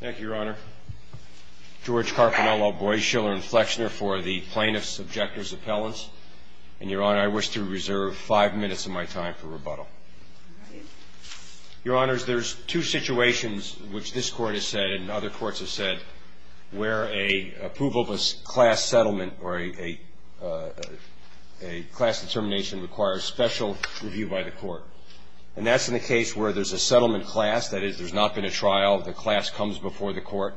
Thank you, Your Honor. George Carpinello, Boies, Schiller, and Flechner for the plaintiff's objector's appellants. And, Your Honor, I wish to reserve five minutes of my time for rebuttal. Your Honors, there's two situations which this Court has said and other courts have said where a approval of a class settlement or a class determination requires special review by the Court. And that's in the case where there's a settlement class, that is, there's not been a trial, the class comes before the Court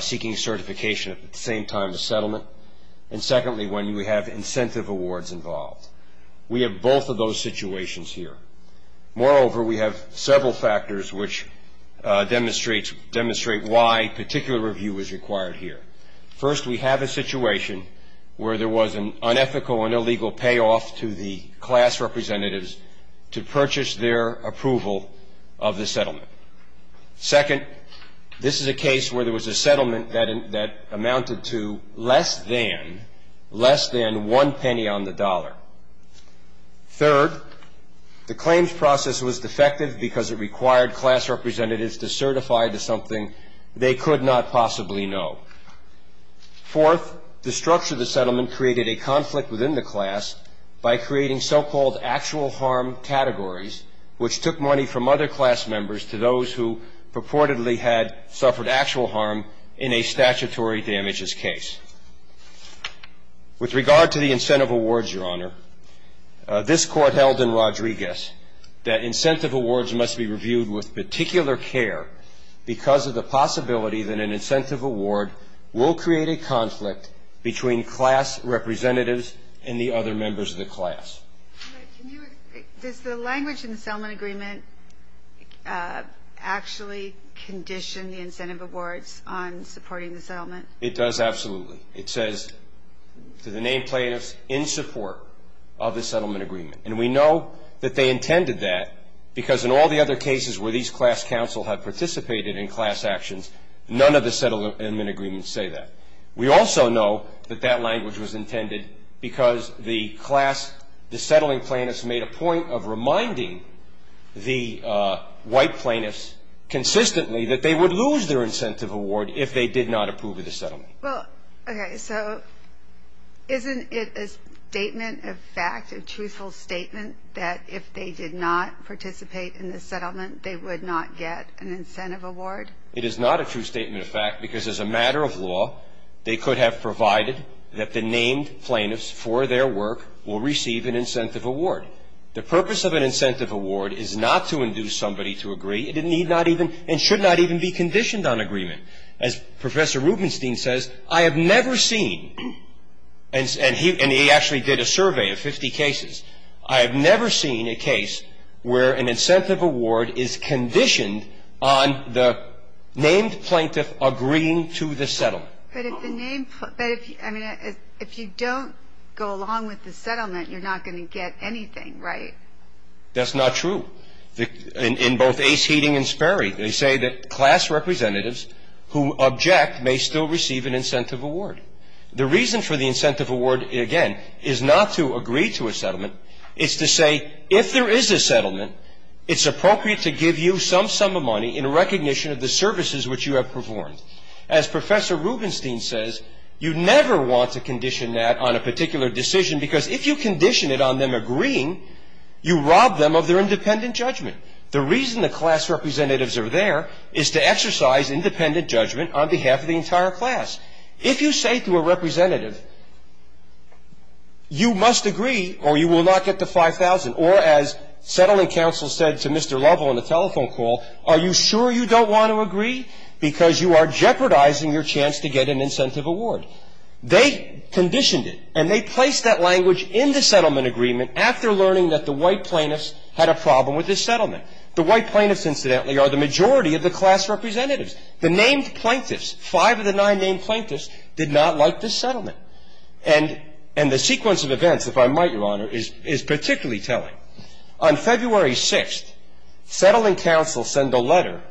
seeking certification at the same time as settlement, and secondly, when we have incentive awards involved. We have both of those situations here. Moreover, we have several factors which demonstrate why particular review is required here. First, we have a situation where there was an unethical and illegal payoff to the settlement. Second, this is a case where there was a settlement that amounted to less than one penny on the dollar. Third, the claims process was defective because it required class representatives to certify to something they could not possibly know. Fourth, the structure of the settlement created a conflict within the class by creating so-called actual harm categories, which took money from other class members to those who purportedly had suffered actual harm in a statutory damages case. With regard to the incentive awards, Your Honor, this Court held in Rodriguez that incentive awards must be reviewed with particular care because of the possibility that an incentive award will create a conflict between class representatives and the other members of the class. Does the settlement agreement actually condition the incentive awards on supporting the settlement? It does, absolutely. It says to the named plaintiffs, in support of the settlement agreement. And we know that they intended that because in all the other cases where these class counsel have participated in class actions, none of the settlement agreements say that. We also know that that language was the white plaintiffs consistently that they would lose their incentive award if they did not approve of the settlement. Well, okay. So isn't it a statement of fact, a truthful statement that if they did not participate in the settlement, they would not get an incentive award? It is not a true statement of fact because as a matter of law, they could have provided that named plaintiffs for their work will receive an incentive award. The purpose of an incentive award is not to induce somebody to agree. It need not even and should not even be conditioned on agreement. As Professor Rubenstein says, I have never seen, and he actually did a survey of 50 cases, I have never seen a case where an incentive award is conditioned on the named plaintiff agreeing to the settlement. But if the name, I mean, if you don't go along with the settlement, you're not going to get anything, right? That's not true. In both Ace Heating and Sperry, they say that class representatives who object may still receive an incentive award. The reason for the incentive award, again, is not to agree to a settlement. It's to say if there is a settlement, it's appropriate to give you some sum of money in recognition of the services which you have performed. As Professor Rubenstein says, you never want to condition that on a particular decision because if you condition it on them agreeing, you rob them of their independent judgment. The reason the class representatives are there is to exercise independent judgment on behalf of the entire class. If you say to a representative, you must agree or you will not get the $5,000, or as settling counsel said to Mr. Lovell on the telephone call, are you sure you don't want to agree? Because you are jeopardizing your chance to get an incentive award. They conditioned it, and they placed that language in the settlement agreement after learning that the white plaintiffs had a problem with this settlement. The white plaintiffs, incidentally, are the majority of the class representatives. The named plaintiffs, five of the nine named plaintiffs, did not like this settlement. And the sequence of events, if I might, Your Honor, is particularly telling. On February 6th, settling counsel sent a letter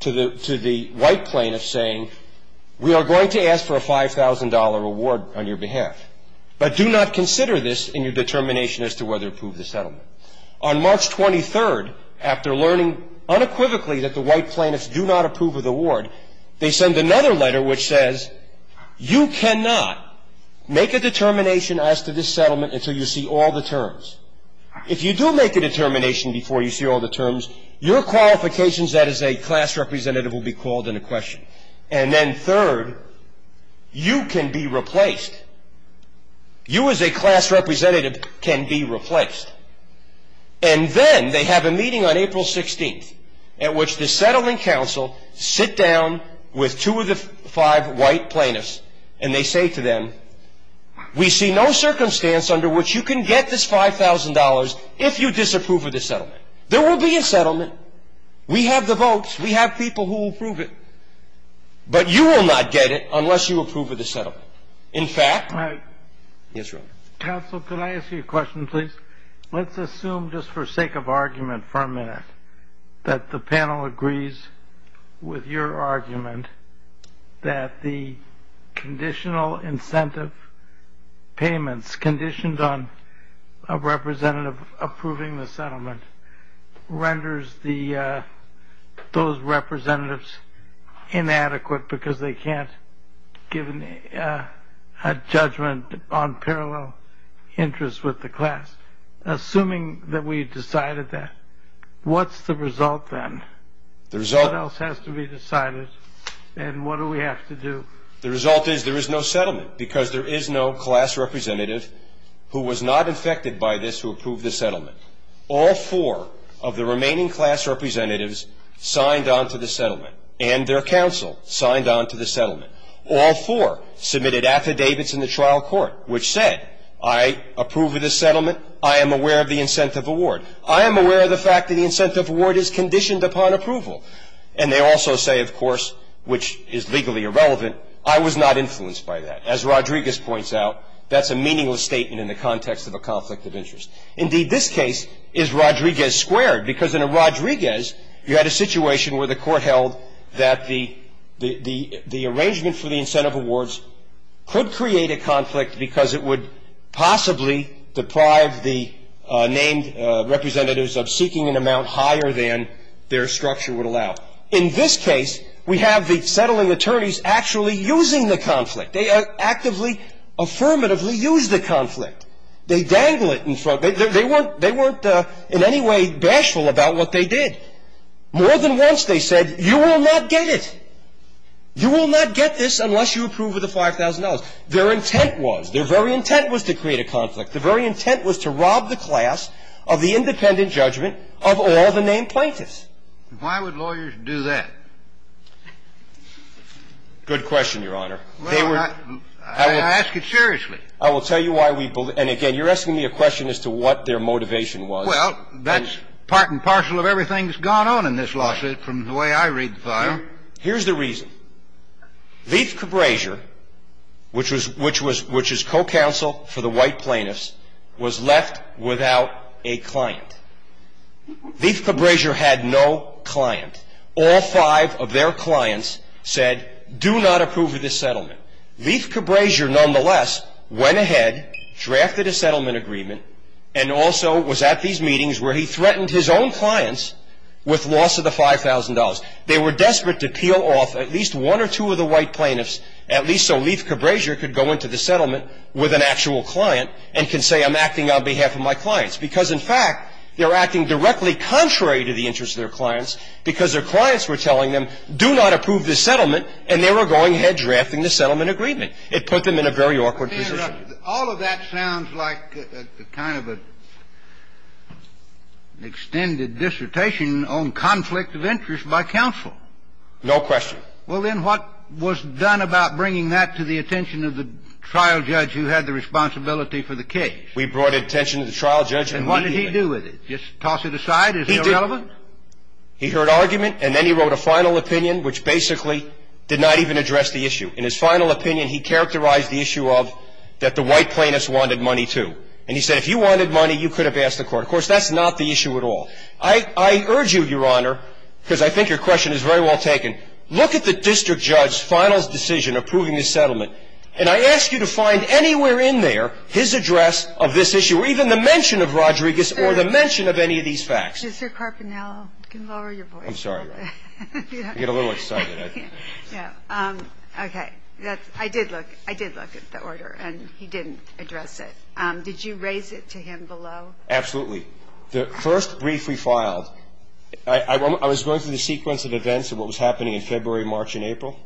to the white plaintiffs saying, we are going to ask for a $5,000 award on your behalf, but do not consider this in your determination as to whether to approve the settlement. On March 23rd, after learning unequivocally that the white plaintiffs do not approve of the award, they send another letter which says, you cannot make a determination as to this settlement until you see all the terms. If you do make a determination before you see all the terms, your qualifications as a class representative will be called into question. And then third, you can be replaced. You as a class representative can be replaced. And then they have a meeting on April 16th at which the settlement counsel sit down with two of the five white plaintiffs, and they say to them, we see no circumstance under which you can get this $5,000 if you disapprove of the settlement. There will be a settlement. We have the votes. We have people who approve it. But you will not get it unless you approve of the settlement. In fact, yes, Your Honor. Counsel, could I ask you a question, please? Let's assume, just for sake of argument for a minute, that the panel agrees with your argument that the conditional incentive payments conditioned on a representative approving the settlement renders those representatives inadequate because they can't give a judgment on parallel interests with the class. Assuming that we decided that, what's the result then? The result. What else has to be decided? And what do we have to do? The result is there is no settlement because there is no class representative who was not affected by this who approved the settlement. All four of the remaining class representatives signed on to the settlement, and their counsel signed on to the settlement. All four submitted affidavits in the trial court which said, I approve of the settlement. I am aware of the incentive award. I am aware of the fact that the incentive award is conditioned upon approval. And they also say, of course, which is legally irrelevant, I was not influenced by that. As Rodriguez points out, that's a meaningless statement in the context of a conflict of interest. Indeed, this case is Rodriguez squared because in a Rodriguez, you had a situation where the court held that the arrangement for the incentive awards could create a conflict because it would possibly deprive the named representatives of seeking an amount higher than their structure would allow. In this case, we have the settling attorneys actually using the conflict. They actively, affirmatively use the conflict. They dangle it in front. They weren't in any way bashful about what they did. More than once, they said, you will not get it. You will not get this unless you approve of the $5,000. Their intent was, their very intent was to create of all the named plaintiffs. Why would lawyers do that? Good question, Your Honor. I ask it seriously. I will tell you why we believe. And again, you're asking me a question as to what their motivation was. Well, that's part and parcel of everything that's gone on in this lawsuit from the way I read the file. Here's the reason. Leith Cabreja, which is co-counsel for the white plaintiffs, was left without a client. Leith Cabreja had no client. All five of their clients said, do not approve of this settlement. Leith Cabreja, nonetheless, went ahead, drafted a settlement agreement, and also was at these meetings where he threatened his own clients with loss of the $5,000. They were desperate to peel off at least one or two of the white plaintiffs, at least so Leith Cabreja could go into the settlement with an actual client and can say, I'm acting on behalf of my clients. Because, in fact, they're acting directly contrary to the interests of their clients because their clients were telling them, do not approve this settlement, and they were going ahead drafting the settlement agreement. It put them in a very awkward position. All of that sounds like kind of an extended dissertation on conflict of interest by counsel. No question. Well, then what was done about bringing that to the attention of the trial judge who had the responsibility for the case? We brought attention to the trial judge immediately. And what did he do with it? Just toss it aside? Is it irrelevant? He heard argument, and then he wrote a final opinion, which basically did not even address the issue. In his final opinion, he characterized the issue of that the white plaintiffs wanted money, too. And he said, if you wanted money, you could have asked the court. Of course, that's not the issue at all. I urge you, Your Honor, because I think your look at the district judge's final decision approving the settlement, and I ask you to find anywhere in there his address of this issue, or even the mention of Rodriguez or the mention of any of these facts. Mr. Carpinello, you can lower your voice. I'm sorry. I get a little excited, I think. Yeah. Okay. I did look at the order, and he didn't address it. Did you raise it to him below? Absolutely. The first brief we filed, I was going through the sequence of events of what was happening in February, March, and April.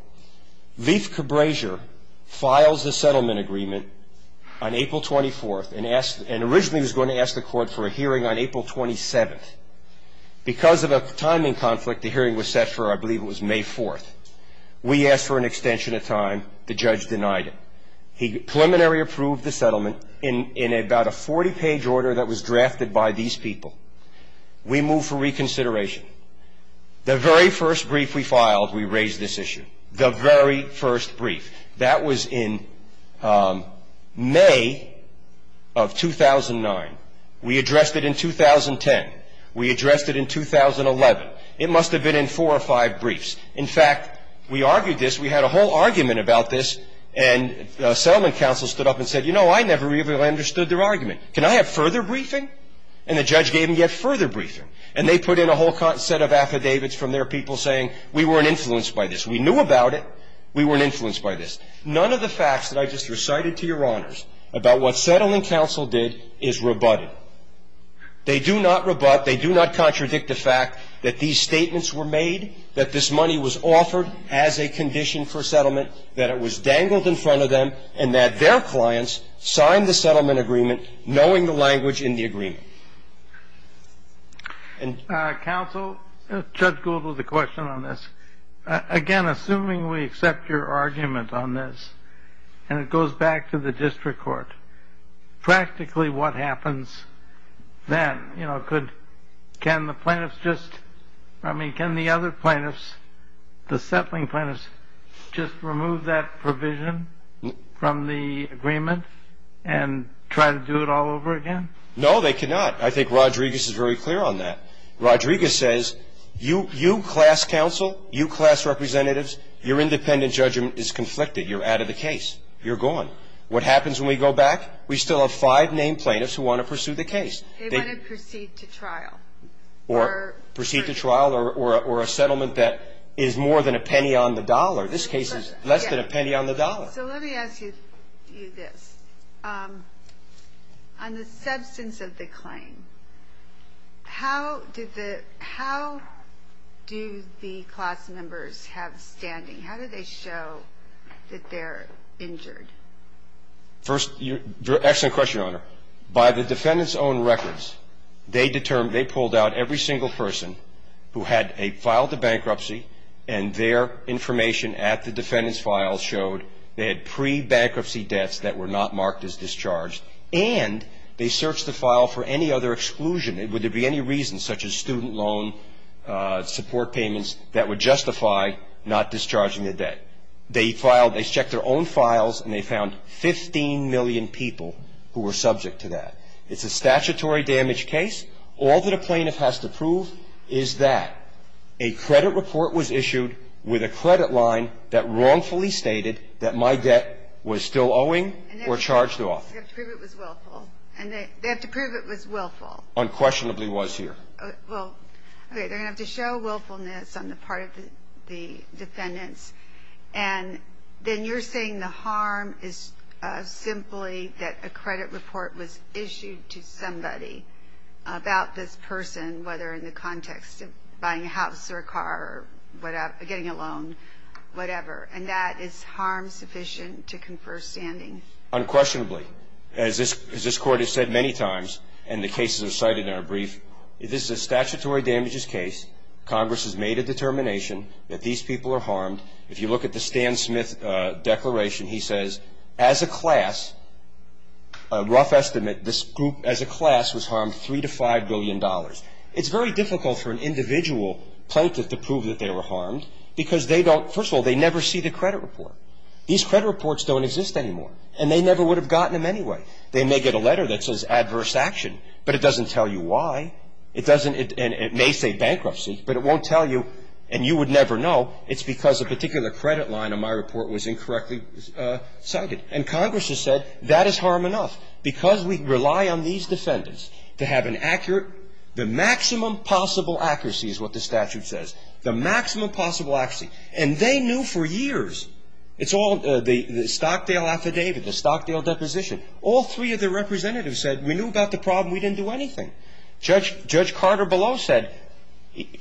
Lief Cabreja files the settlement agreement on April 24th, and originally was going to ask the court for a hearing on April 27th. Because of a timing conflict, the hearing was set for, I believe it was May 4th. We asked for an extension of time. The judge denied it. He preliminary approved the settlement in about a 40-page order that was drafted by these people. We moved for a hearing on April 27th. The first brief we filed, we raised this issue. The very first brief. That was in May of 2009. We addressed it in 2010. We addressed it in 2011. It must have been in four or five briefs. In fact, we argued this. We had a whole argument about this, and the settlement counsel stood up and said, you know, I never really understood their argument. Can I have further briefing? And the judge gave him yet further briefing. And they put in a whole set of affidavits from their people saying, we weren't influenced by this. We knew about it. We weren't influenced by this. None of the facts that I just recited to Your Honors about what settlement counsel did is rebutted. They do not rebut, they do not contradict the fact that these statements were made, that this money was offered as a condition for settlement, that it was dangled in front of them, and that their clients signed the settlement agreement knowing the language in the agreement. Counsel, Judge Gould has a question on this. Again, assuming we accept your argument on this, and it goes back to the district court, practically what happens then? Can the plaintiffs just, I mean, can the other plaintiffs, the settling plaintiffs, just remove that provision from the agreement and try to do it all over again? No, they cannot. I think Rodriguez is very clear on that. Rodriguez says, you class counsel, you class representatives, your independent judgment is conflicted. You're out of the case. You're gone. What happens when we go back? We still have five named plaintiffs who want to pursue the case. They want to proceed to trial. Or proceed to trial or a settlement that is more than a penny on the dollar. This case is less than a penny on the dollar. So let me ask you this. On the substance of the claim, how do the class members have standing? How do they show that they're injured? First, excellent question, Your Honor. By the defendant's own records, they determined, they pulled out every single person who had a file to bankruptcy and their information at the defendant's file showed they had pre-bankruptcy debts that were not marked as discharged. And they searched the file for any other exclusion. Would there be any reason, such as student loan support payments, that would justify not discharging the debt? They checked their own files and they found 15 million people who were subject to that. It's a statutory damage case. All that a plaintiff has to prove is that a credit report was issued with a credit line that wrongfully stated that my debt was still owing or charged off. And they have to prove it was willful. And they have to prove it was willful. Unquestionably was here. Well, okay. They're going to have to show willfulness on the part of the defendants. And then you're saying the harm is simply that a credit report was issued to somebody about this person, whether in the context of buying a car or whatever, getting a loan, whatever. And that is harm sufficient to confer standing? Unquestionably. As this Court has said many times, and the cases are cited in our brief, this is a statutory damages case. Congress has made a determination that these people are harmed. If you look at the Stan Smith Declaration, he says, as a class, a rough estimate, this group as a class was harmed $3 to $5 billion. It's very difficult for an individual plaintiff to prove that they were harmed because they don't – first of all, they never see the credit report. These credit reports don't exist anymore. And they never would have gotten them anyway. They may get a letter that says adverse action, but it doesn't tell you why. It doesn't – and it may say bankruptcy, but it won't tell you and you would never know. It's because a particular credit line on my report was incorrectly cited. And Congress has said that is harm enough. Because we rely on these defendants to have an accurate – the maximum possible accuracy is what the statute says. The maximum possible accuracy. And they knew for years – it's all the Stockdale affidavit, the Stockdale deposition. All three of the representatives said we knew about the problem. We didn't do anything. Judge Carter below said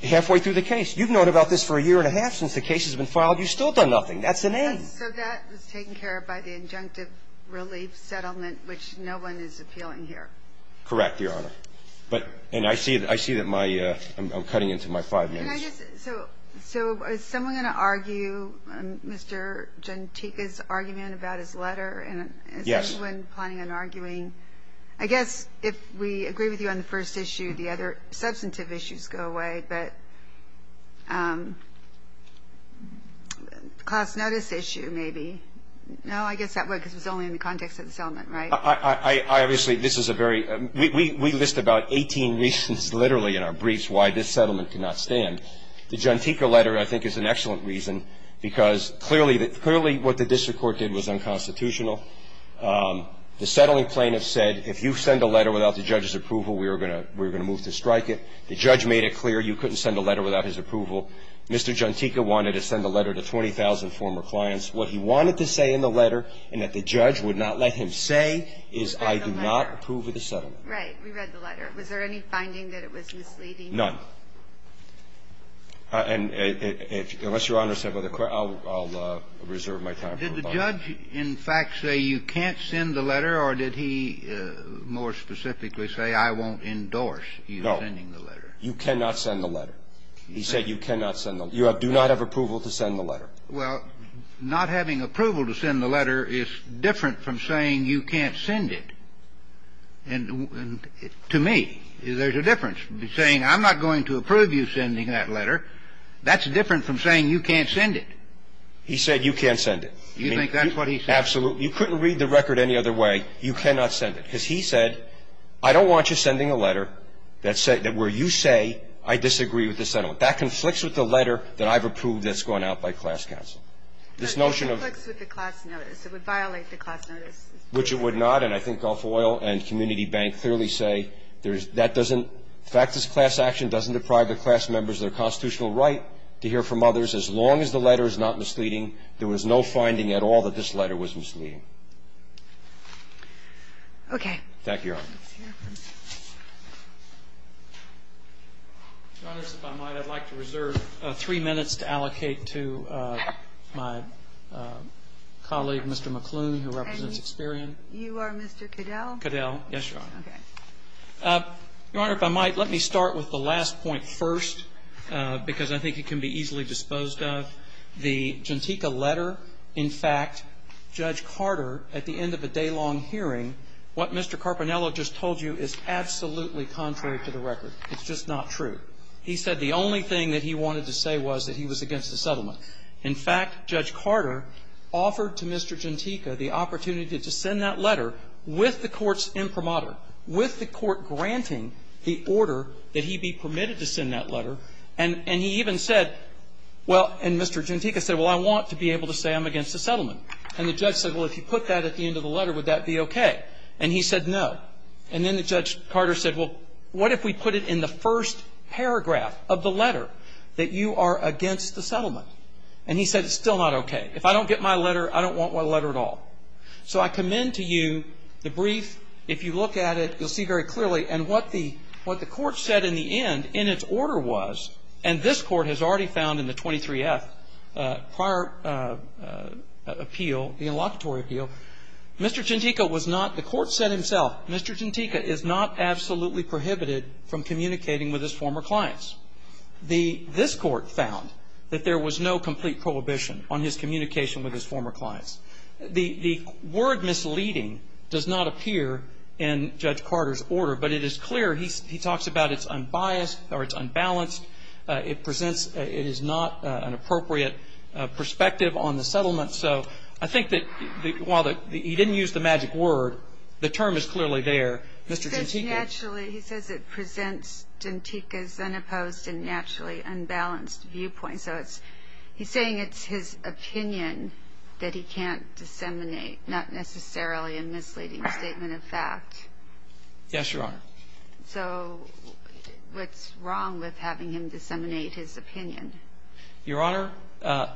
halfway through the case, you've known about this for a year and a half since the case has been filed. You've still done nothing. That's an end. So that was taken care of by the injunctive relief settlement, which no one is appealing here. Correct, Your Honor. But – and I see that my – I'm cutting into my five minutes. Can I just – so is someone going to argue Mr. Gentika's argument about his letter? Yes. And is someone planning on arguing – I guess if we agree with you on the first issue, the other substantive issues go away. But class notice issue, maybe. No, I guess that would – because it was only in the context of the settlement, right? I – obviously, this is a very – we list about 18 reasons literally in our briefs why this settlement could not stand. The Gentika letter, I think, is an excellent reason because clearly – clearly what the district court did was unconstitutional. The settling plaintiffs said if you send a letter without the judge's approval, we are going to move to strike it. The judge made it clear you couldn't send a letter without his approval. Mr. Gentika wanted to send a letter to 20,000 former clients. What he wanted to say in the letter and that the judge would not let him say is I do not approve of the settlement. Right. We read the letter. Was there any finding that it was misleading? None. And if – unless Your Honor said other – I'll reserve my time for rebuttal. Did the judge, in fact, say you can't send the letter, or did he more specifically say I won't endorse you sending the letter? No. You cannot send the letter. He said you cannot send the letter. You do not have approval to send the letter. Well, not having approval to send the letter is different from saying you can't send it. And to me, there's a difference. Saying I'm not going to approve you sending that letter, that's different from saying you can't send it. He said you can't send it. You think that's what he said? Absolutely. You couldn't read the record any other way. You cannot send it. Because he said I don't want you sending a letter that said – that where you say I disagree with the settlement. That conflicts with the letter that I've approved that's gone out by class counsel. This notion of – But it conflicts with the class notice. It would violate the class notice. Which it would not. And I think Gulf Oil and Community Bank clearly say there's – that doesn't – the fact this class action doesn't deprive the class members of their constitutional right to hear from others, as long as the letter is not misleading, there was no finding at all that this letter was misleading. Okay. Thank you, Your Honor. Your Honor, if I might, I'd like to reserve three minutes to allocate to my colleague, Mr. McClune, who represents Experian. And you are Mr. Cadell? Cadell. Yes, Your Honor. Okay. Your Honor, if I might, let me start with the last point first, because I think it can be easily disposed of. The Gentika letter, in fact, Judge Carter, at the end of a daylong hearing, what Mr. Carpinello just told you is absolutely contrary to the record. It's just not true. He said the only thing that he wanted to say was that he was against the settlement. In fact, Judge Carter offered to Mr. Gentika the opportunity to send that letter with the court's imprimatur, with the court granting the order that he be permitted to send that letter. And he even said – well, and Mr. Gentika said, well, I want to be able to say I'm And he said, no. And then Judge Carter said, well, what if we put it in the first paragraph of the letter that you are against the settlement? And he said, it's still not okay. If I don't get my letter, I don't want my letter at all. So I commend to you the brief. If you look at it, you'll see very clearly. And what the court said in the end, in its order was – and this court has already found in the 23-F prior appeal, the inlocutory appeal, Mr. Gentika was not – the court said himself, Mr. Gentika is not absolutely prohibited from communicating with his former clients. The – this court found that there was no complete prohibition on his communication with his former clients. The word misleading does not appear in Judge Carter's order, but it is clear he talks about it's unbiased or it's unbalanced. It presents – it is not an appropriate perspective on the settlement. So I think that while the – he didn't use the magic word, the term is clearly there. Mr. Gentika – He says naturally – he says it presents Gentika's unopposed and naturally unbalanced viewpoint. So it's – he's saying it's his opinion that he can't disseminate, not necessarily a misleading statement of fact. Yes, Your Honor. So what's wrong with having him disseminate his opinion? Your Honor,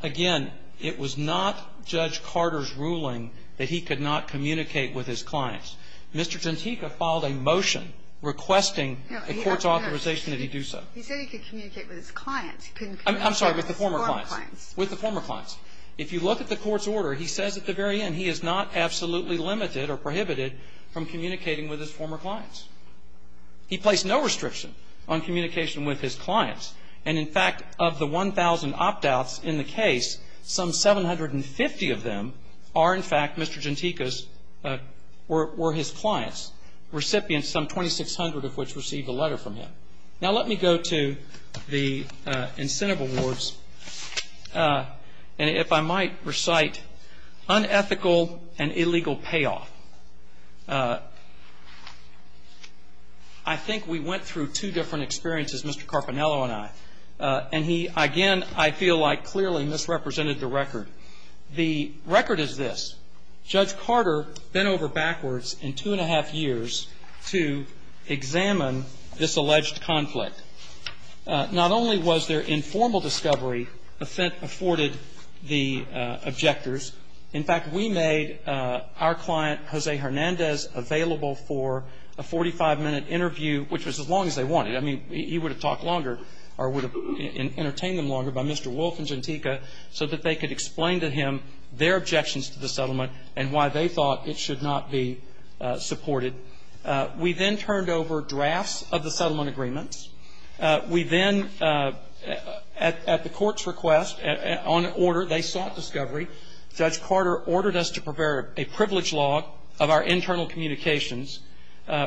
again, it was not Judge Carter's ruling that he could not communicate with his clients. Mr. Gentika filed a motion requesting a court's authorization that he do so. He said he could communicate with his clients. He couldn't communicate with his former clients. I'm sorry, with the former clients. With the former clients. If you look at the court's order, he says at the very end he is not absolutely limited or prohibited from communicating with his former clients. He placed no restriction on communication with his clients. And in fact, of the 1,000 opt-outs in the case, some 750 of them are in fact Mr. Gentika's – were his clients. Recipients, some 2,600 of which received a letter from him. Now let me go to the incentive awards. And if I might recite, unethical and unethical, I think we went through two different experiences, Mr. Carpinello and I. And he, again, I feel like clearly misrepresented the record. The record is this. Judge Carter bent over backwards in two and a half years to examine this alleged conflict. Not only was there informal discovery afforded the objectors, in fact, we made our client, Jose Hernandez, available for a 45-minute interview, which was as long as they wanted. I mean, he would have talked longer or would have entertained them longer by Mr. Wolf and Gentika so that they could explain to him their objections to the settlement and why they thought it should not be supported. We then turned over drafts of the settlement agreements. We then, at the court's request, on order, they sought discovery. Judge Carter ordered us to prepare a privilege log of our internal communications.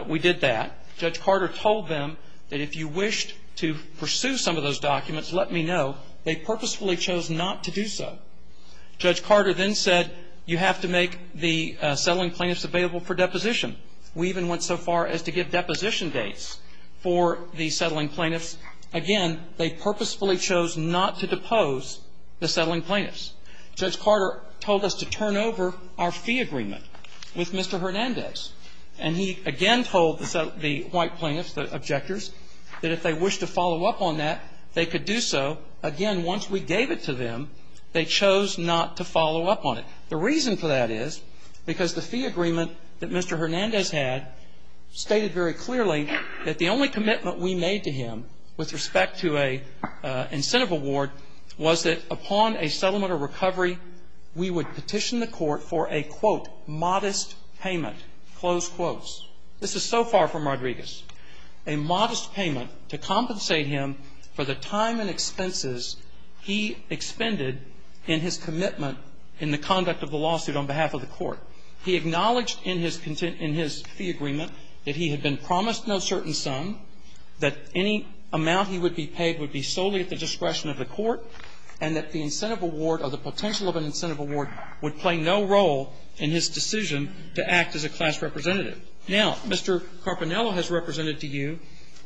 We did that. Judge Carter told them that if you wished to pursue some of those documents, let me know. They purposefully chose not to do so. Judge Carter then said, you have to make the settling plaintiffs available for deposition. We even went so far as to give deposition dates for the settling plaintiffs. Judge Carter told us to turn over our fee agreement with Mr. Hernandez. And he again told the white plaintiffs, the objectors, that if they wished to follow up on that, they could do so. Again, once we gave it to them, they chose not to follow up on it. The reason for that is because the fee agreement that Mr. Hernandez had stated very clearly that the only commitment we made to him with respect to an incentive award was that upon a settlement or recovery, we would petition the Court for a, quote, modest payment, close quotes. This is so far from Rodriguez. A modest payment to compensate him for the time and expenses he expended in his commitment in the conduct of the lawsuit on behalf of the Court. He acknowledged in his fee agreement that he had been promised no certain sum, that any amount he would be paid would be solely at the discretion of the Court, and that the incentive award or the potential of an incentive award would play no role in his decision to act as a class representative. Now, Mr. Carpinello has represented to you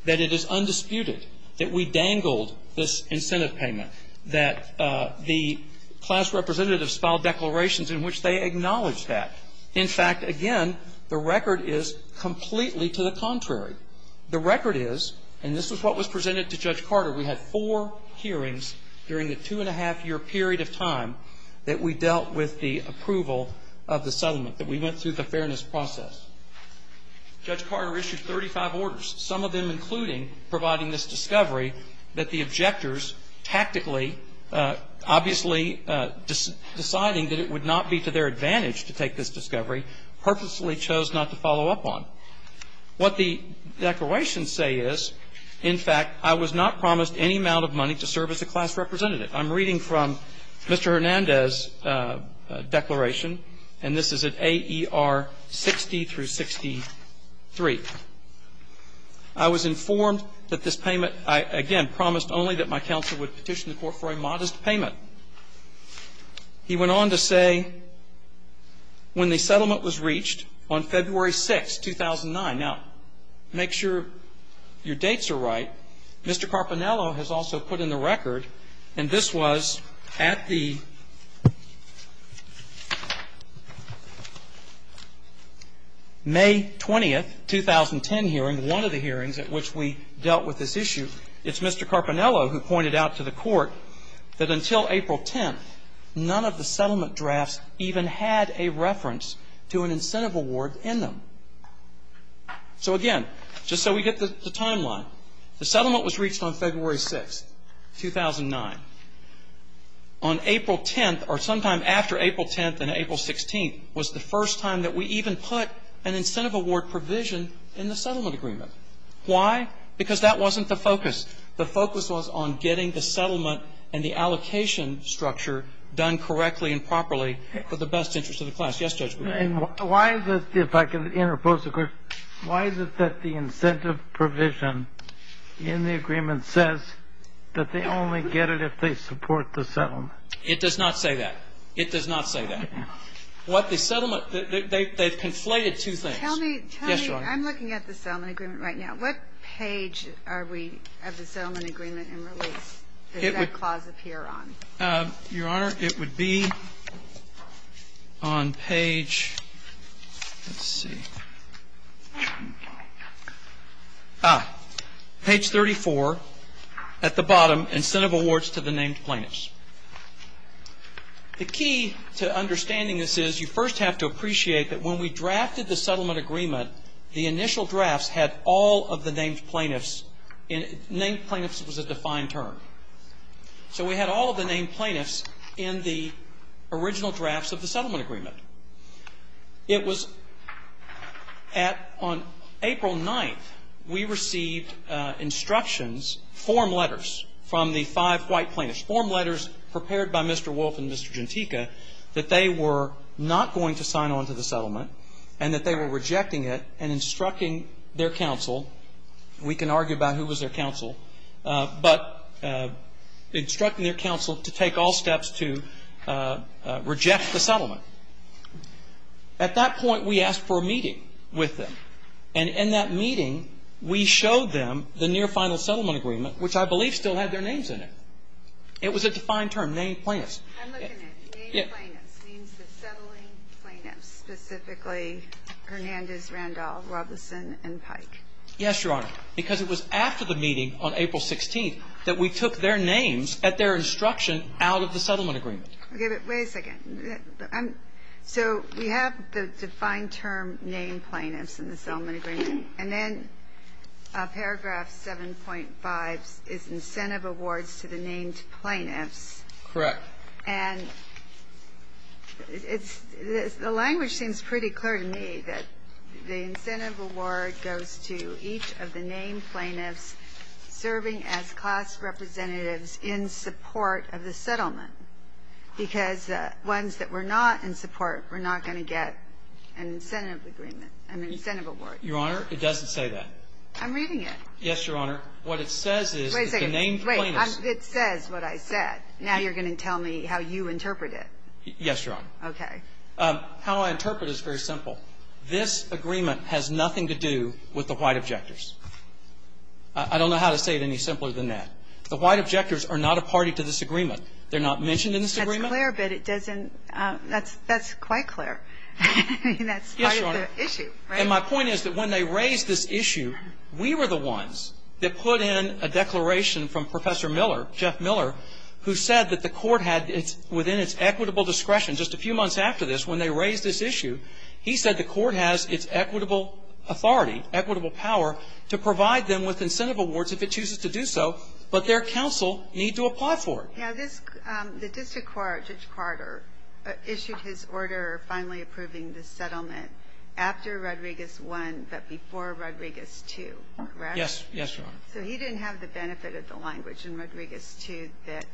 that it is undisputed that we dangled this incentive payment, that the class representatives filed declarations in which they acknowledged that. In fact, again, the record is completely to the contrary. The record is, and this is what was presented to Judge Carter, we had four hearings during the two-and-a-half-year period of time that we dealt with the approval of the settlement, that we went through the fairness process. Judge Carter issued 35 orders, some of them including providing this discovery that the objectors tactically, obviously deciding that it would not be to their What the declarations say is, in fact, I was not promised any amount of money to serve as a class representative. I'm reading from Mr. Hernandez's declaration, and this is at AER 60 through 63. I was informed that this payment, I, again, promised only that my counsel would petition the Court for a modest payment. He went on to say, when the settlement was reached on February 6th, 2009. Now, make sure your dates are right. Mr. Carpinello has also put in the record, and this was at the May 20th, 2010 hearing, one of the hearings at which we dealt with this issue. It's Mr. Carpinello who pointed out to the Court that until April 10th, none of the in them. So, again, just so we get the timeline, the settlement was reached on February 6th, 2009. On April 10th, or sometime after April 10th and April 16th, was the first time that we even put an incentive award provision in the settlement agreement. Why? Because that wasn't the focus. The focus was on getting the settlement and the allocation structure done correctly and properly for the best interest of the class. Yes, Judge? And why is it, if I can interpose the question, why is it that the incentive provision in the agreement says that they only get it if they support the settlement? It does not say that. It does not say that. Okay. What the settlement, they've conflated two things. Tell me, tell me. Yes, Your Honor. I'm looking at the settlement agreement right now. What page are we, of the settlement agreement in release, does that clause appear on? Your Honor, it would be on page, let's see, page 34 at the bottom, incentive awards to the named plaintiffs. The key to understanding this is, you first have to appreciate that when we drafted the settlement agreement, the initial drafts had all of the named plaintiffs. Named plaintiffs was a defined term. So we had all of the named plaintiffs in the original drafts of the settlement agreement. It was at, on April 9th, we received instructions, form letters, from the five white plaintiffs, form letters prepared by Mr. Wolf and Mr. Gentica, that they were not going to sign on to the settlement and that they were rejecting it and instructing their counsel. We can argue about who was their counsel, but instructing their counsel to take all steps to reject the settlement. At that point, we asked for a meeting with them. And in that meeting, we showed them the near final settlement agreement, which I believe still had their names in it. It was a defined term, named plaintiffs. I'm looking at named plaintiffs, means the settling plaintiffs, specifically Hernandez, Randall, Robleson, and Pike. Yes, Your Honor. Because it was after the meeting on April 16th that we took their names at their instruction out of the settlement agreement. Okay. But wait a second. So we have the defined term, named plaintiffs, in the settlement agreement. And then paragraph 7.5 is incentive awards to the named plaintiffs. Correct. And it's the language seems pretty clear to me that the incentive award goes to each of the named plaintiffs serving as class representatives in support of the settlement, because ones that were not in support were not going to get an incentive agreement, an incentive award. Your Honor, it doesn't say that. I'm reading it. Yes, Your Honor. What it says is the named plaintiffs. Wait a second. Wait. It says what I said. Now you're going to tell me how you interpret it. Yes, Your Honor. Okay. How I interpret it is very simple. This agreement has nothing to do with the white objectors. I don't know how to say it any simpler than that. The white objectors are not a party to this agreement. They're not mentioned in this agreement. That's clear, but it doesn't – that's quite clear. I mean, that's part of the issue, right? Yes, Your Honor. And my point is that when they raised this issue, we were the within its equitable discretion. Just a few months after this, when they raised this issue, he said the court has its equitable authority, equitable power to provide them with incentive awards if it chooses to do so, but their counsel need to apply for it. Now, this – the district court, Judge Carter, issued his order finally approving the settlement after Rodriguez I but before Rodriguez II, correct? Yes. Yes, Your Honor. So he didn't have the benefit of the language in Rodriguez II that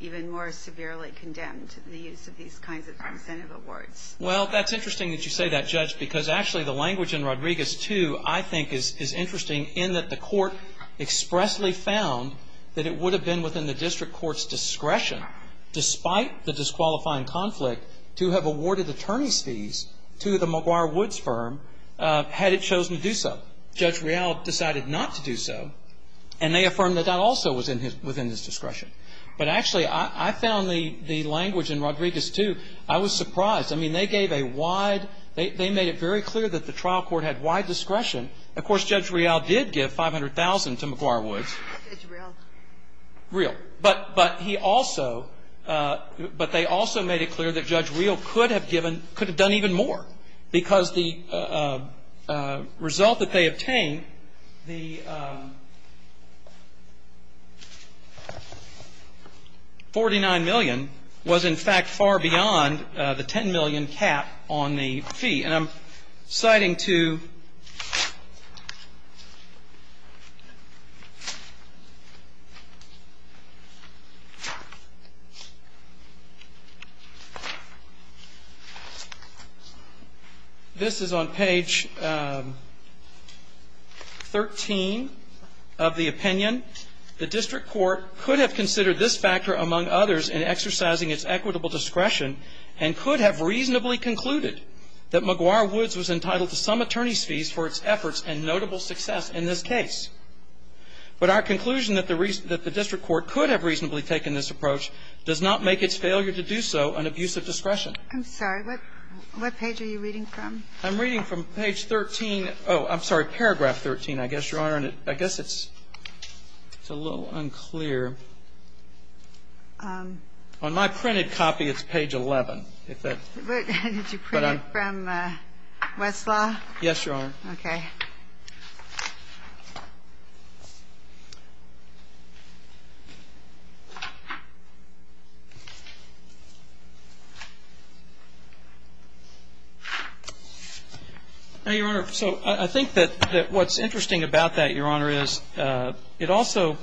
even more severely condemned the use of these kinds of incentive awards. Well, that's interesting that you say that, Judge, because actually the language in Rodriguez II I think is interesting in that the court expressly found that it would have been within the district court's discretion, despite the disqualifying conflict, to have awarded attorney's fees to the McGuire Woods firm had it chosen to do so. Judge Real decided not to do so, and they affirmed that that also was in his – within his discretion. But actually, I found the language in Rodriguez II, I was surprised. I mean, they gave a wide – they made it very clear that the trial court had wide discretion. Of course, Judge Real did give $500,000 to McGuire Woods. Judge Real. Real. But he also – but they also made it clear that Judge Real could have given – could have done even more, because the result that they obtained, the $49 million was, in fact, far beyond the $10 million cap on the fee. And I'm citing to – this is on page 13 of the opinion. The district court could have considered this factor among others in exercising discretion, and could have reasonably concluded that McGuire Woods was entitled to some attorney's fees for its efforts and notable success in this case. But our conclusion that the district court could have reasonably taken this approach does not make its failure to do so an abuse of discretion. I'm sorry. What page are you reading from? I'm reading from page 13 – oh, I'm sorry, paragraph 13, I guess, Your Honor. And I guess it's a little unclear. On my printed copy, it's page 11. Did you print it from Westlaw? Yes, Your Honor. Okay. Your Honor, so I think that what's interesting about that, Your Honor, is it also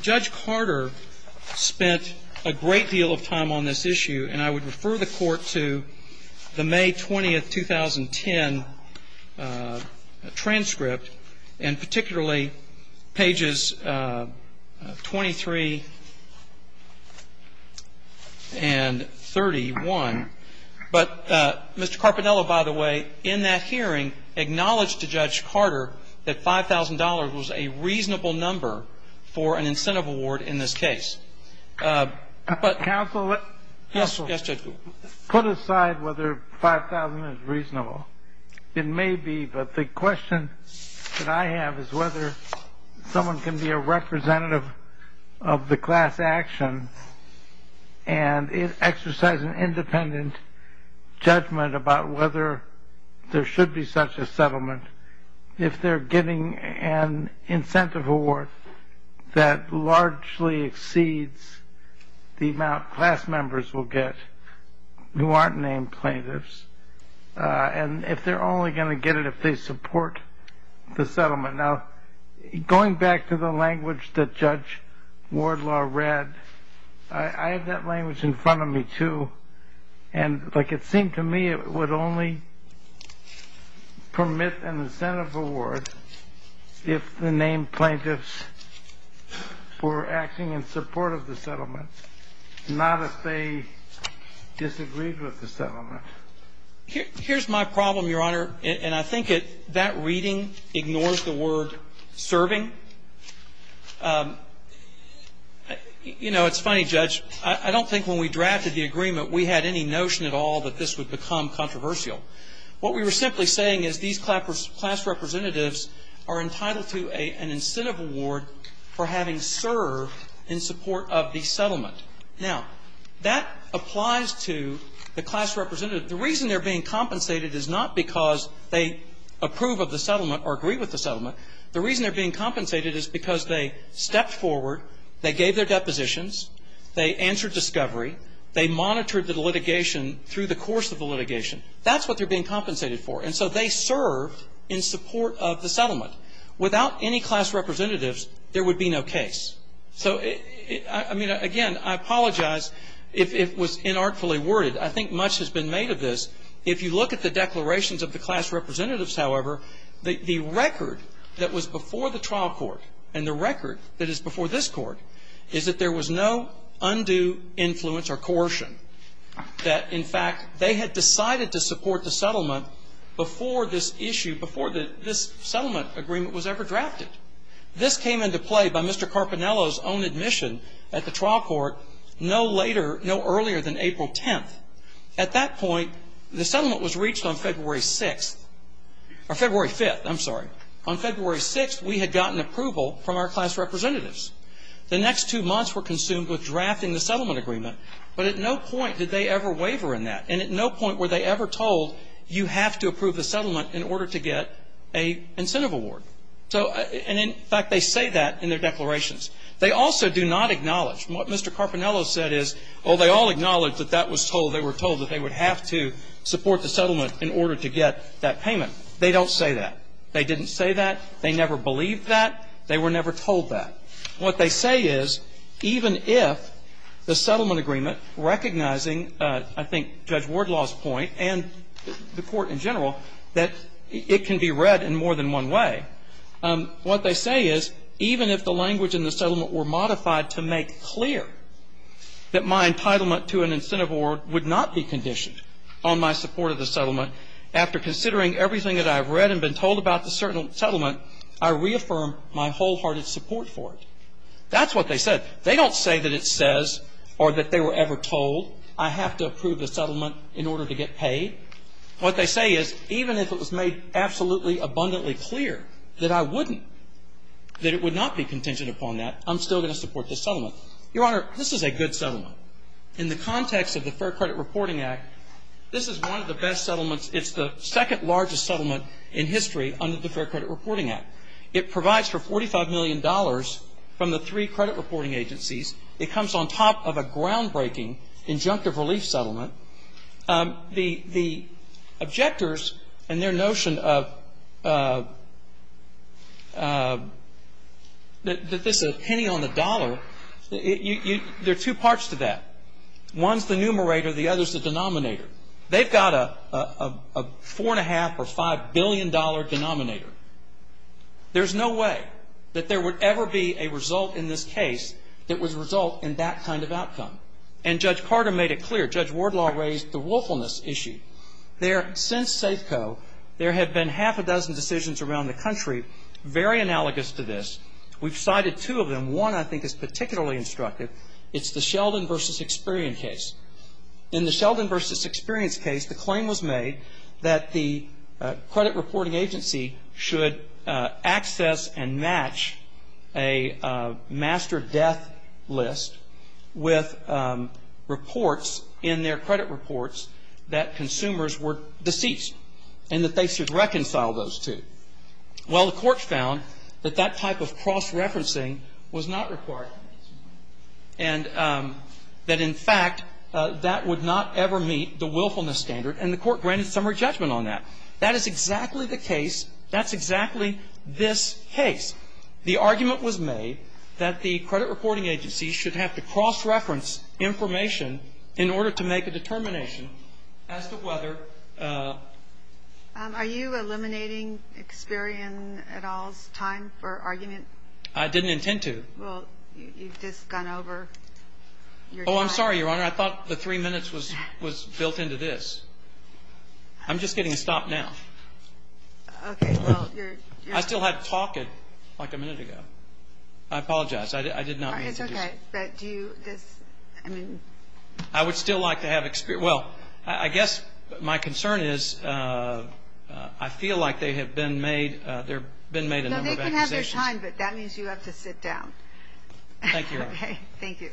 Judge Carter spent a great deal of time on this issue, and I would refer the Court to the May 20, 2010, transcript, and particularly pages 23 and 31. But Mr. Carpinello, by the way, in that hearing acknowledged to Judge Carter that in this case. Counsel? Yes, Judge Gould. Put aside whether $5,000 is reasonable. It may be, but the question that I have is whether someone can be a representative of the class action and exercise an independent judgment about whether there should be such a settlement if they're getting an incentive award that largely exceeds the amount class members will get who aren't named plaintiffs, and if they're only going to get it if they support the settlement. Now, going back to the language that Judge Wardlaw read, I have that language in front of me, too, and like it seemed to me, it would only permit an incentive award if the name plaintiffs were acting in support of the settlement, not if they disagreed with the settlement. Here's my problem, Your Honor, and I think that reading ignores the word serving. You know, it's funny, Judge. I don't think when we drafted the agreement we had any notion at all that this would become controversial. What we were simply saying is these class representatives are entitled to an incentive award for having served in support of the settlement. Now, that applies to the class representative. The reason they're being compensated is not because they approve of the settlement or agree with the settlement. The reason they're being compensated is because they stepped forward, they gave their depositions, they answered discovery, they monitored the litigation through the course of the litigation. That's what they're being compensated for. And so they served in support of the settlement. Without any class representatives, there would be no case. So, I mean, again, I apologize if it was inartfully worded. I think much has been made of this. If you look at the declarations of the class representatives, however, the record that was before the trial court and the record that is before this court is that there was no undue influence or coercion. That, in fact, they had decided to support the settlement before this issue, before this settlement agreement was ever drafted. This came into play by Mr. Carpinello's own admission at the trial court no later, no earlier than April 10th. At that point, the settlement was reached on February 6th, or February 5th, I'm sorry. On February 6th, we had gotten approval from our class representatives. The next two months were consumed with drafting the settlement agreement, but at no point did they ever waver in that. And at no point were they ever told, you have to approve the settlement in order to get an incentive award. So, and in fact, they say that in their declarations. They also do not acknowledge. What Mr. Carpinello said is, oh, they all acknowledge that that was told, they were told that they would have to support the settlement in order to get that payment. They don't say that. They didn't say that. They never believed that. They were never told that. What they say is, even if the settlement agreement, recognizing, I think, Judge Wardlaw's point and the Court in general, that it can be read in more than one way, what they say is, even if the language in the settlement were modified to make clear that my entitlement to an incentive award would not be conditioned on my support of the settlement, after considering everything that I've read and been told about the settlement, I reaffirm my wholehearted support for it. That's what they said. They don't say that it says or that they were ever told I have to approve the settlement in order to get paid. What they say is, even if it was made absolutely abundantly clear that I wouldn't, that it would not be contingent upon that, I'm still going to support this settlement. Your Honor, this is a good settlement. In the context of the Fair Credit Reporting Act, this is one of the best settlements. It's the second largest settlement in history under the Fair Credit Reporting Act. It provides for $45 million from the three credit reporting agencies. It comes on top of a groundbreaking injunctive relief settlement. The objectors and their notion of this is a penny on the dollar, there are two parts to that. One is the numerator. The other is the denominator. They've got a $4.5 or $5 billion denominator. There's no way that there would ever be a result in this case that would result in that kind of outcome. And Judge Carter made it clear, Judge Wardlaw raised the willfulness issue. There, since Safeco, there have been half a dozen decisions around the country very analogous to this. We've cited two of them. One, I think, is particularly instructive. It's the Sheldon v. Experian case. In the Sheldon v. Experian case, the claim was made that the credit reporting agency should access and match a master death list with reports in their credit reports that consumers were deceased and that they should reconcile those two. Well, the court found that that type of cross-referencing was not required and that, in fact, that would not ever meet the willfulness standard, and the court granted summary judgment on that. That is exactly the case. That's exactly this case. The argument was made that the credit reporting agency should have to cross-reference information in order to make a determination as to whether ---- Are you eliminating Experian et al.'s time for argument? I didn't intend to. Well, you've just gone over your time. Oh, I'm sorry, Your Honor. I thought the three minutes was built into this. I'm just getting stopped now. Okay. Well, you're ---- I still had to talk like a minute ago. I apologize. I did not mean to do that. It's okay. But do you just, I mean ---- I would still like to have Experian. Well, I guess my concern is I feel like they have been made a number of accusations. Well, you have time, but that means you have to sit down. Thank you, Your Honor. Okay. Thank you.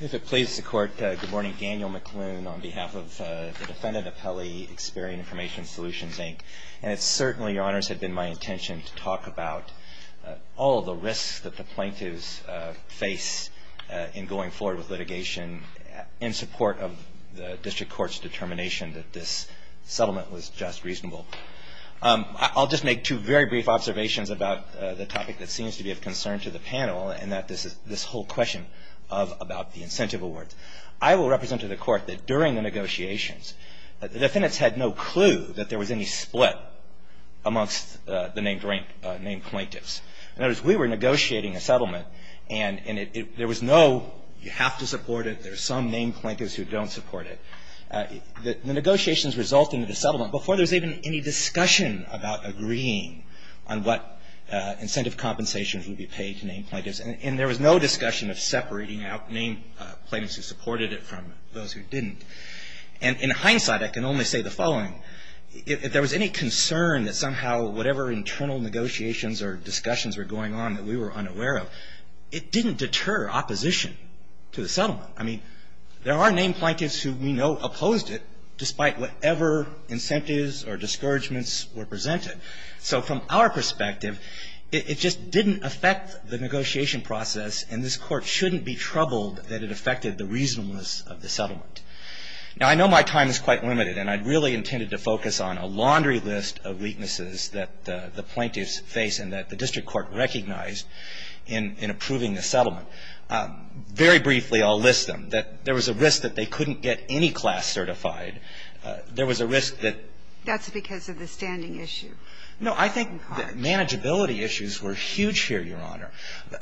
If it pleases the Court, good morning. Daniel McLoone on behalf of the defendant appellee, Experian Information Solutions, Inc. And it certainly, Your Honors, had been my intention to talk about all of the risks that the plaintiffs face in going forward with litigation in support of the district court's determination that this settlement was just reasonable. I'll just make two very brief observations about the topic that seems to be of concern to the panel and this whole question about the incentive award. I will represent to the court that during the negotiations, the defendants had no clue that there was any split amongst the named plaintiffs. In other words, we were negotiating a settlement, and there was no, you have to support it, there are some named plaintiffs who don't support it. The negotiations result in the settlement before there's even any discussion about agreeing on what incentive compensation would be paid to named plaintiffs. And there was no discussion of separating out named plaintiffs who supported it from those who didn't. And in hindsight, I can only say the following. If there was any concern that somehow whatever internal negotiations or discussions were going on that we were unaware of, it didn't deter opposition to the settlement. I mean, there are named plaintiffs who we know opposed it, despite whatever incentives or discouragements were presented. So from our perspective, it just didn't affect the negotiation process, and this Court shouldn't be troubled that it affected the reasonableness of the settlement. Now, I know my time is quite limited, and I really intended to focus on a laundry list of weaknesses that the plaintiffs face and that the district court recognized in approving the settlement. Very briefly, I'll list them. That there was a risk that they couldn't get any class certified. There was a risk that ---- That's because of the standing issue. No, I think the manageability issues were huge here, Your Honor.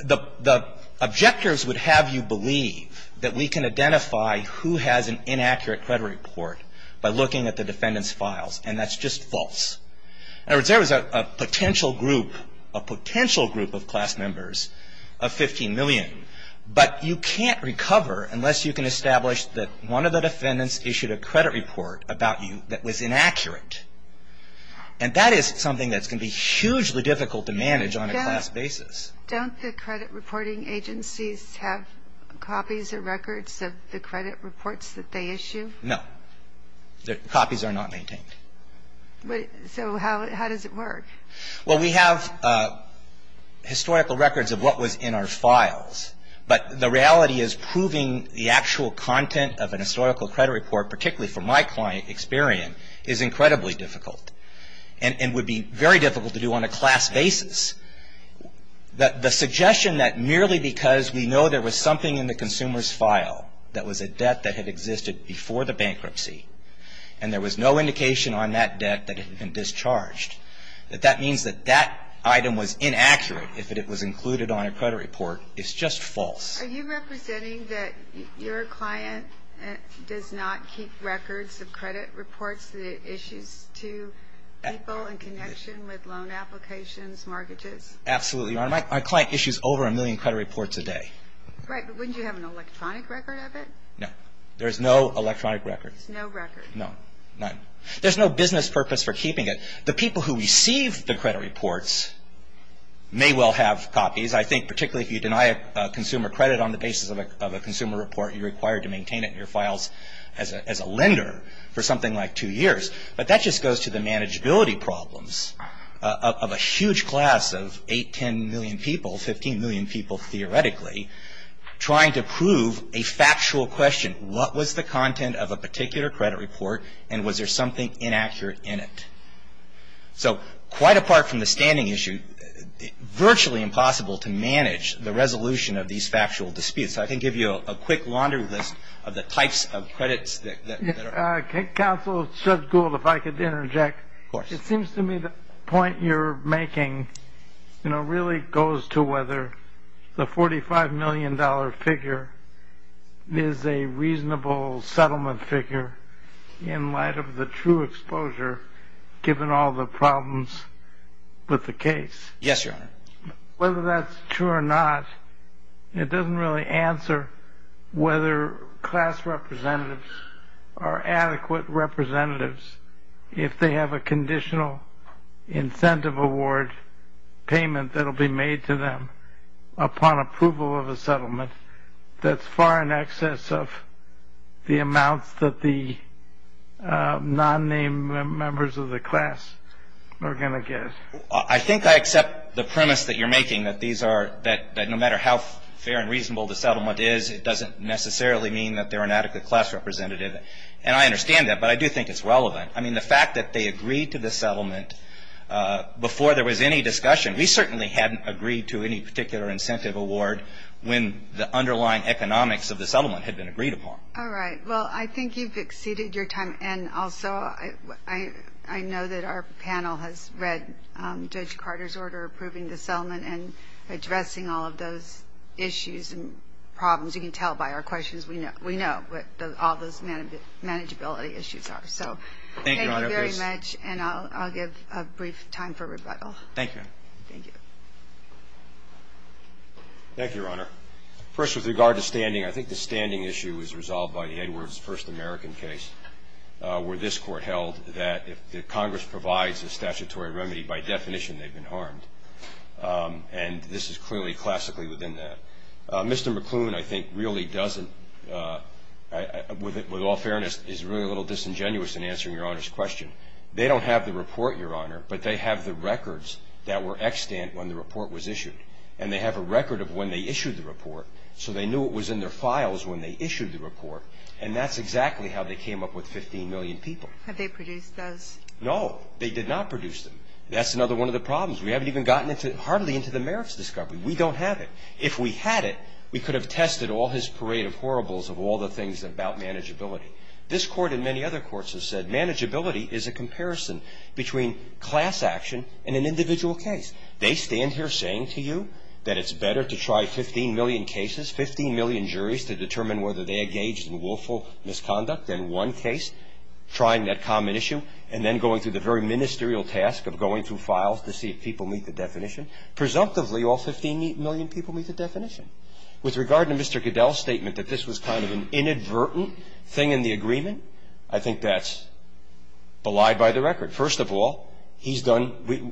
The objectors would have you believe that we can identify who has an inaccurate credit report by looking at the defendant's files, and that's just false. In other words, there was a potential group of class members of 15 million, but you can't recover unless you can establish that one of the defendants issued a credit report about you that was inaccurate. And that is something that's going to be hugely difficult to manage on a class basis. Don't the credit reporting agencies have copies or records of the credit reports that they issue? No. The copies are not maintained. So how does it work? Well, we have historical records of what was in our files, but the reality is proving the actual content of an historical credit report, particularly from my client experience, is incredibly difficult and would be very difficult to do on a class basis. The suggestion that merely because we know there was something in the consumer's file that was a debt that had existed before the bankruptcy and there was no indication on that debt that it had been discharged, that that means that that item was inaccurate if it was included on a credit report, is just false. Are you representing that your client does not keep records of credit reports that it issues to people in connection with loan applications, mortgages? Absolutely. My client issues over a million credit reports a day. Right, but wouldn't you have an electronic record of it? No. There's no electronic record. There's no record. No, none. There's no business purpose for keeping it. The people who receive the credit reports may well have copies. I think particularly if you deny a consumer credit on the basis of a consumer report, you're required to maintain it in your files as a lender for something like two years. But that just goes to the manageability problems of a huge class of 8, 10 million people, 15 million people theoretically, trying to prove a factual question. What was the content of a particular credit report and was there something inaccurate in it? So quite apart from the standing issue, virtually impossible to manage the resolution of these factual disputes. So I can give you a quick laundry list of the types of credits that are. Counsel, Judge Gould, if I could interject. Of course. It seems to me the point you're making, you know, really goes to whether the $45 million figure is a reasonable settlement figure in light of the true exposure given all the problems with the case. Yes, Your Honor. Whether that's true or not, it doesn't really answer whether class representatives are adequate representatives. If they have a conditional incentive award payment that will be made to them upon approval of a settlement, that's far in excess of the amounts that the non-name members of the class are going to get. I think I accept the premise that you're making, that these are, that no matter how fair and reasonable the settlement is, it doesn't necessarily mean that they're an adequate class representative. And I understand that, but I do think it's relevant. I mean, the fact that they agreed to the settlement before there was any discussion, we certainly hadn't agreed to any particular incentive award when the underlying economics of the settlement had been agreed upon. All right. Well, I think you've exceeded your time. And also, I know that our panel has read Judge Carter's order approving the settlement and addressing all of those issues and problems. You can tell by our questions we know what all those manageability issues are. Thank you, Your Honor. Thank you very much, and I'll give a brief time for rebuttal. Thank you. Thank you. Thank you, Your Honor. First, with regard to standing, I think the standing issue is resolved by the Edwards First American case, where this Court held that if Congress provides a statutory remedy, by definition they've been harmed. And this is clearly classically within that. Mr. McClune, I think, really doesn't, with all fairness, is really a little disingenuous in answering Your Honor's question. They don't have the report, Your Honor, but they have the records that were extant when the report was issued. And they have a record of when they issued the report, so they knew it was in their files when they issued the report, and that's exactly how they came up with 15 million people. Have they produced those? No, they did not produce them. That's another one of the problems. We haven't even gotten hardly into the merits discovery. We don't have it. If we had it, we could have tested all his parade of horribles of all the things about manageability. This Court and many other courts have said manageability is a comparison between class action and an individual case. They stand here saying to you that it's better to try 15 million cases, 15 million juries to determine whether they engaged in willful misconduct in one case, trying that common issue, and then going through the very ministerial task of going through files to see if people meet the definition. Presumptively, all 15 million people meet the definition. With regard to Mr. Goodell's statement that this was kind of an inadvertent thing in the agreement, I think that's belied by the record. First of all, he's done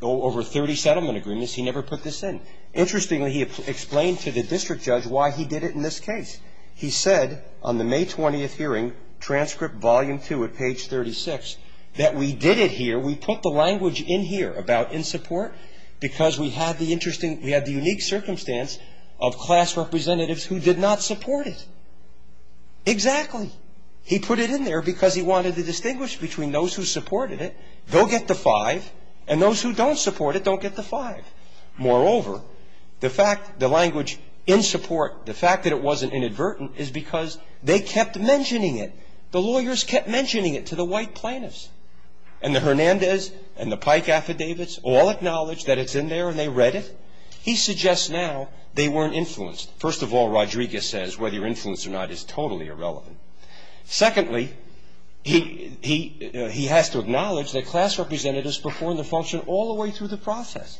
over 30 settlement agreements. He never put this in. Interestingly, he explained to the district judge why he did it in this case. He said on the May 20th hearing, transcript volume 2 at page 36, that we did it here, we put the language in here about in support, because we had the interesting, we had the unique circumstance of class representatives who did not support it. Exactly. He put it in there because he wanted to distinguish between those who supported it, they'll get the five, and those who don't support it don't get the five. Moreover, the fact, the language in support, the fact that it wasn't inadvertent is because they kept mentioning it. The lawyers kept mentioning it to the white plaintiffs. And the Hernandez and the Pike affidavits all acknowledged that it's in there and they read it. He suggests now they weren't influenced. First of all, Rodriguez says whether you're influenced or not is totally irrelevant. Secondly, he has to acknowledge that class representatives performed the function all the way through the process.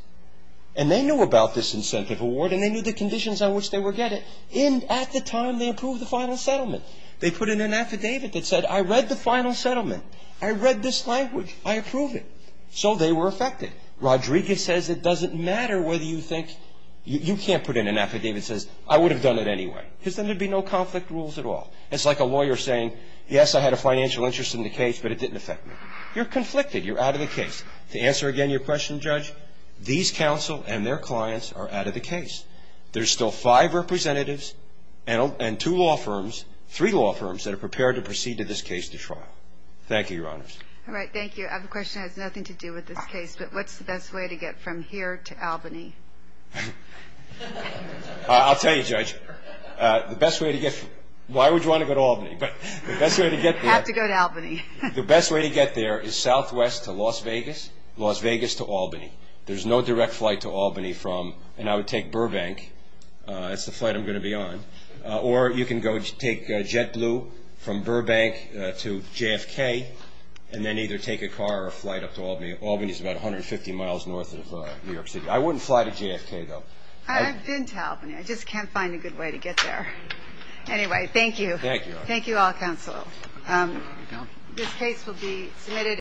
And they knew about this incentive award and they knew the conditions on which they were getting it. And at the time, they approved the final settlement. They put in an affidavit that said, I read the final settlement. I read this language. I approve it. So they were affected. Rodriguez says it doesn't matter whether you think, you can't put in an affidavit that says, I would have done it anyway. It's like a lawyer saying, yes, I had a financial interest in the case, but it didn't affect me. You're conflicted. You're out of the case. To answer again your question, Judge, these counsel and their clients are out of the case. There's still five representatives and two law firms, three law firms, that are prepared to proceed to this case to trial. Thank you, Your Honors. All right. Thank you. I have a question that has nothing to do with this case, but what's the best way to get from here to Albany? I'll tell you, Judge. Why would you want to go to Albany? You have to go to Albany. The best way to get there is southwest to Las Vegas, Las Vegas to Albany. There's no direct flight to Albany from, and I would take Burbank. That's the flight I'm going to be on. Or you can go take JetBlue from Burbank to JFK, and then either take a car or a flight up to Albany. Albany is about 150 miles north of New York City. I wouldn't fly to JFK, though. I've been to Albany. I just can't find a good way to get there. Anyway, thank you. Thank you. Thank you all, counsel. This case will be submitted.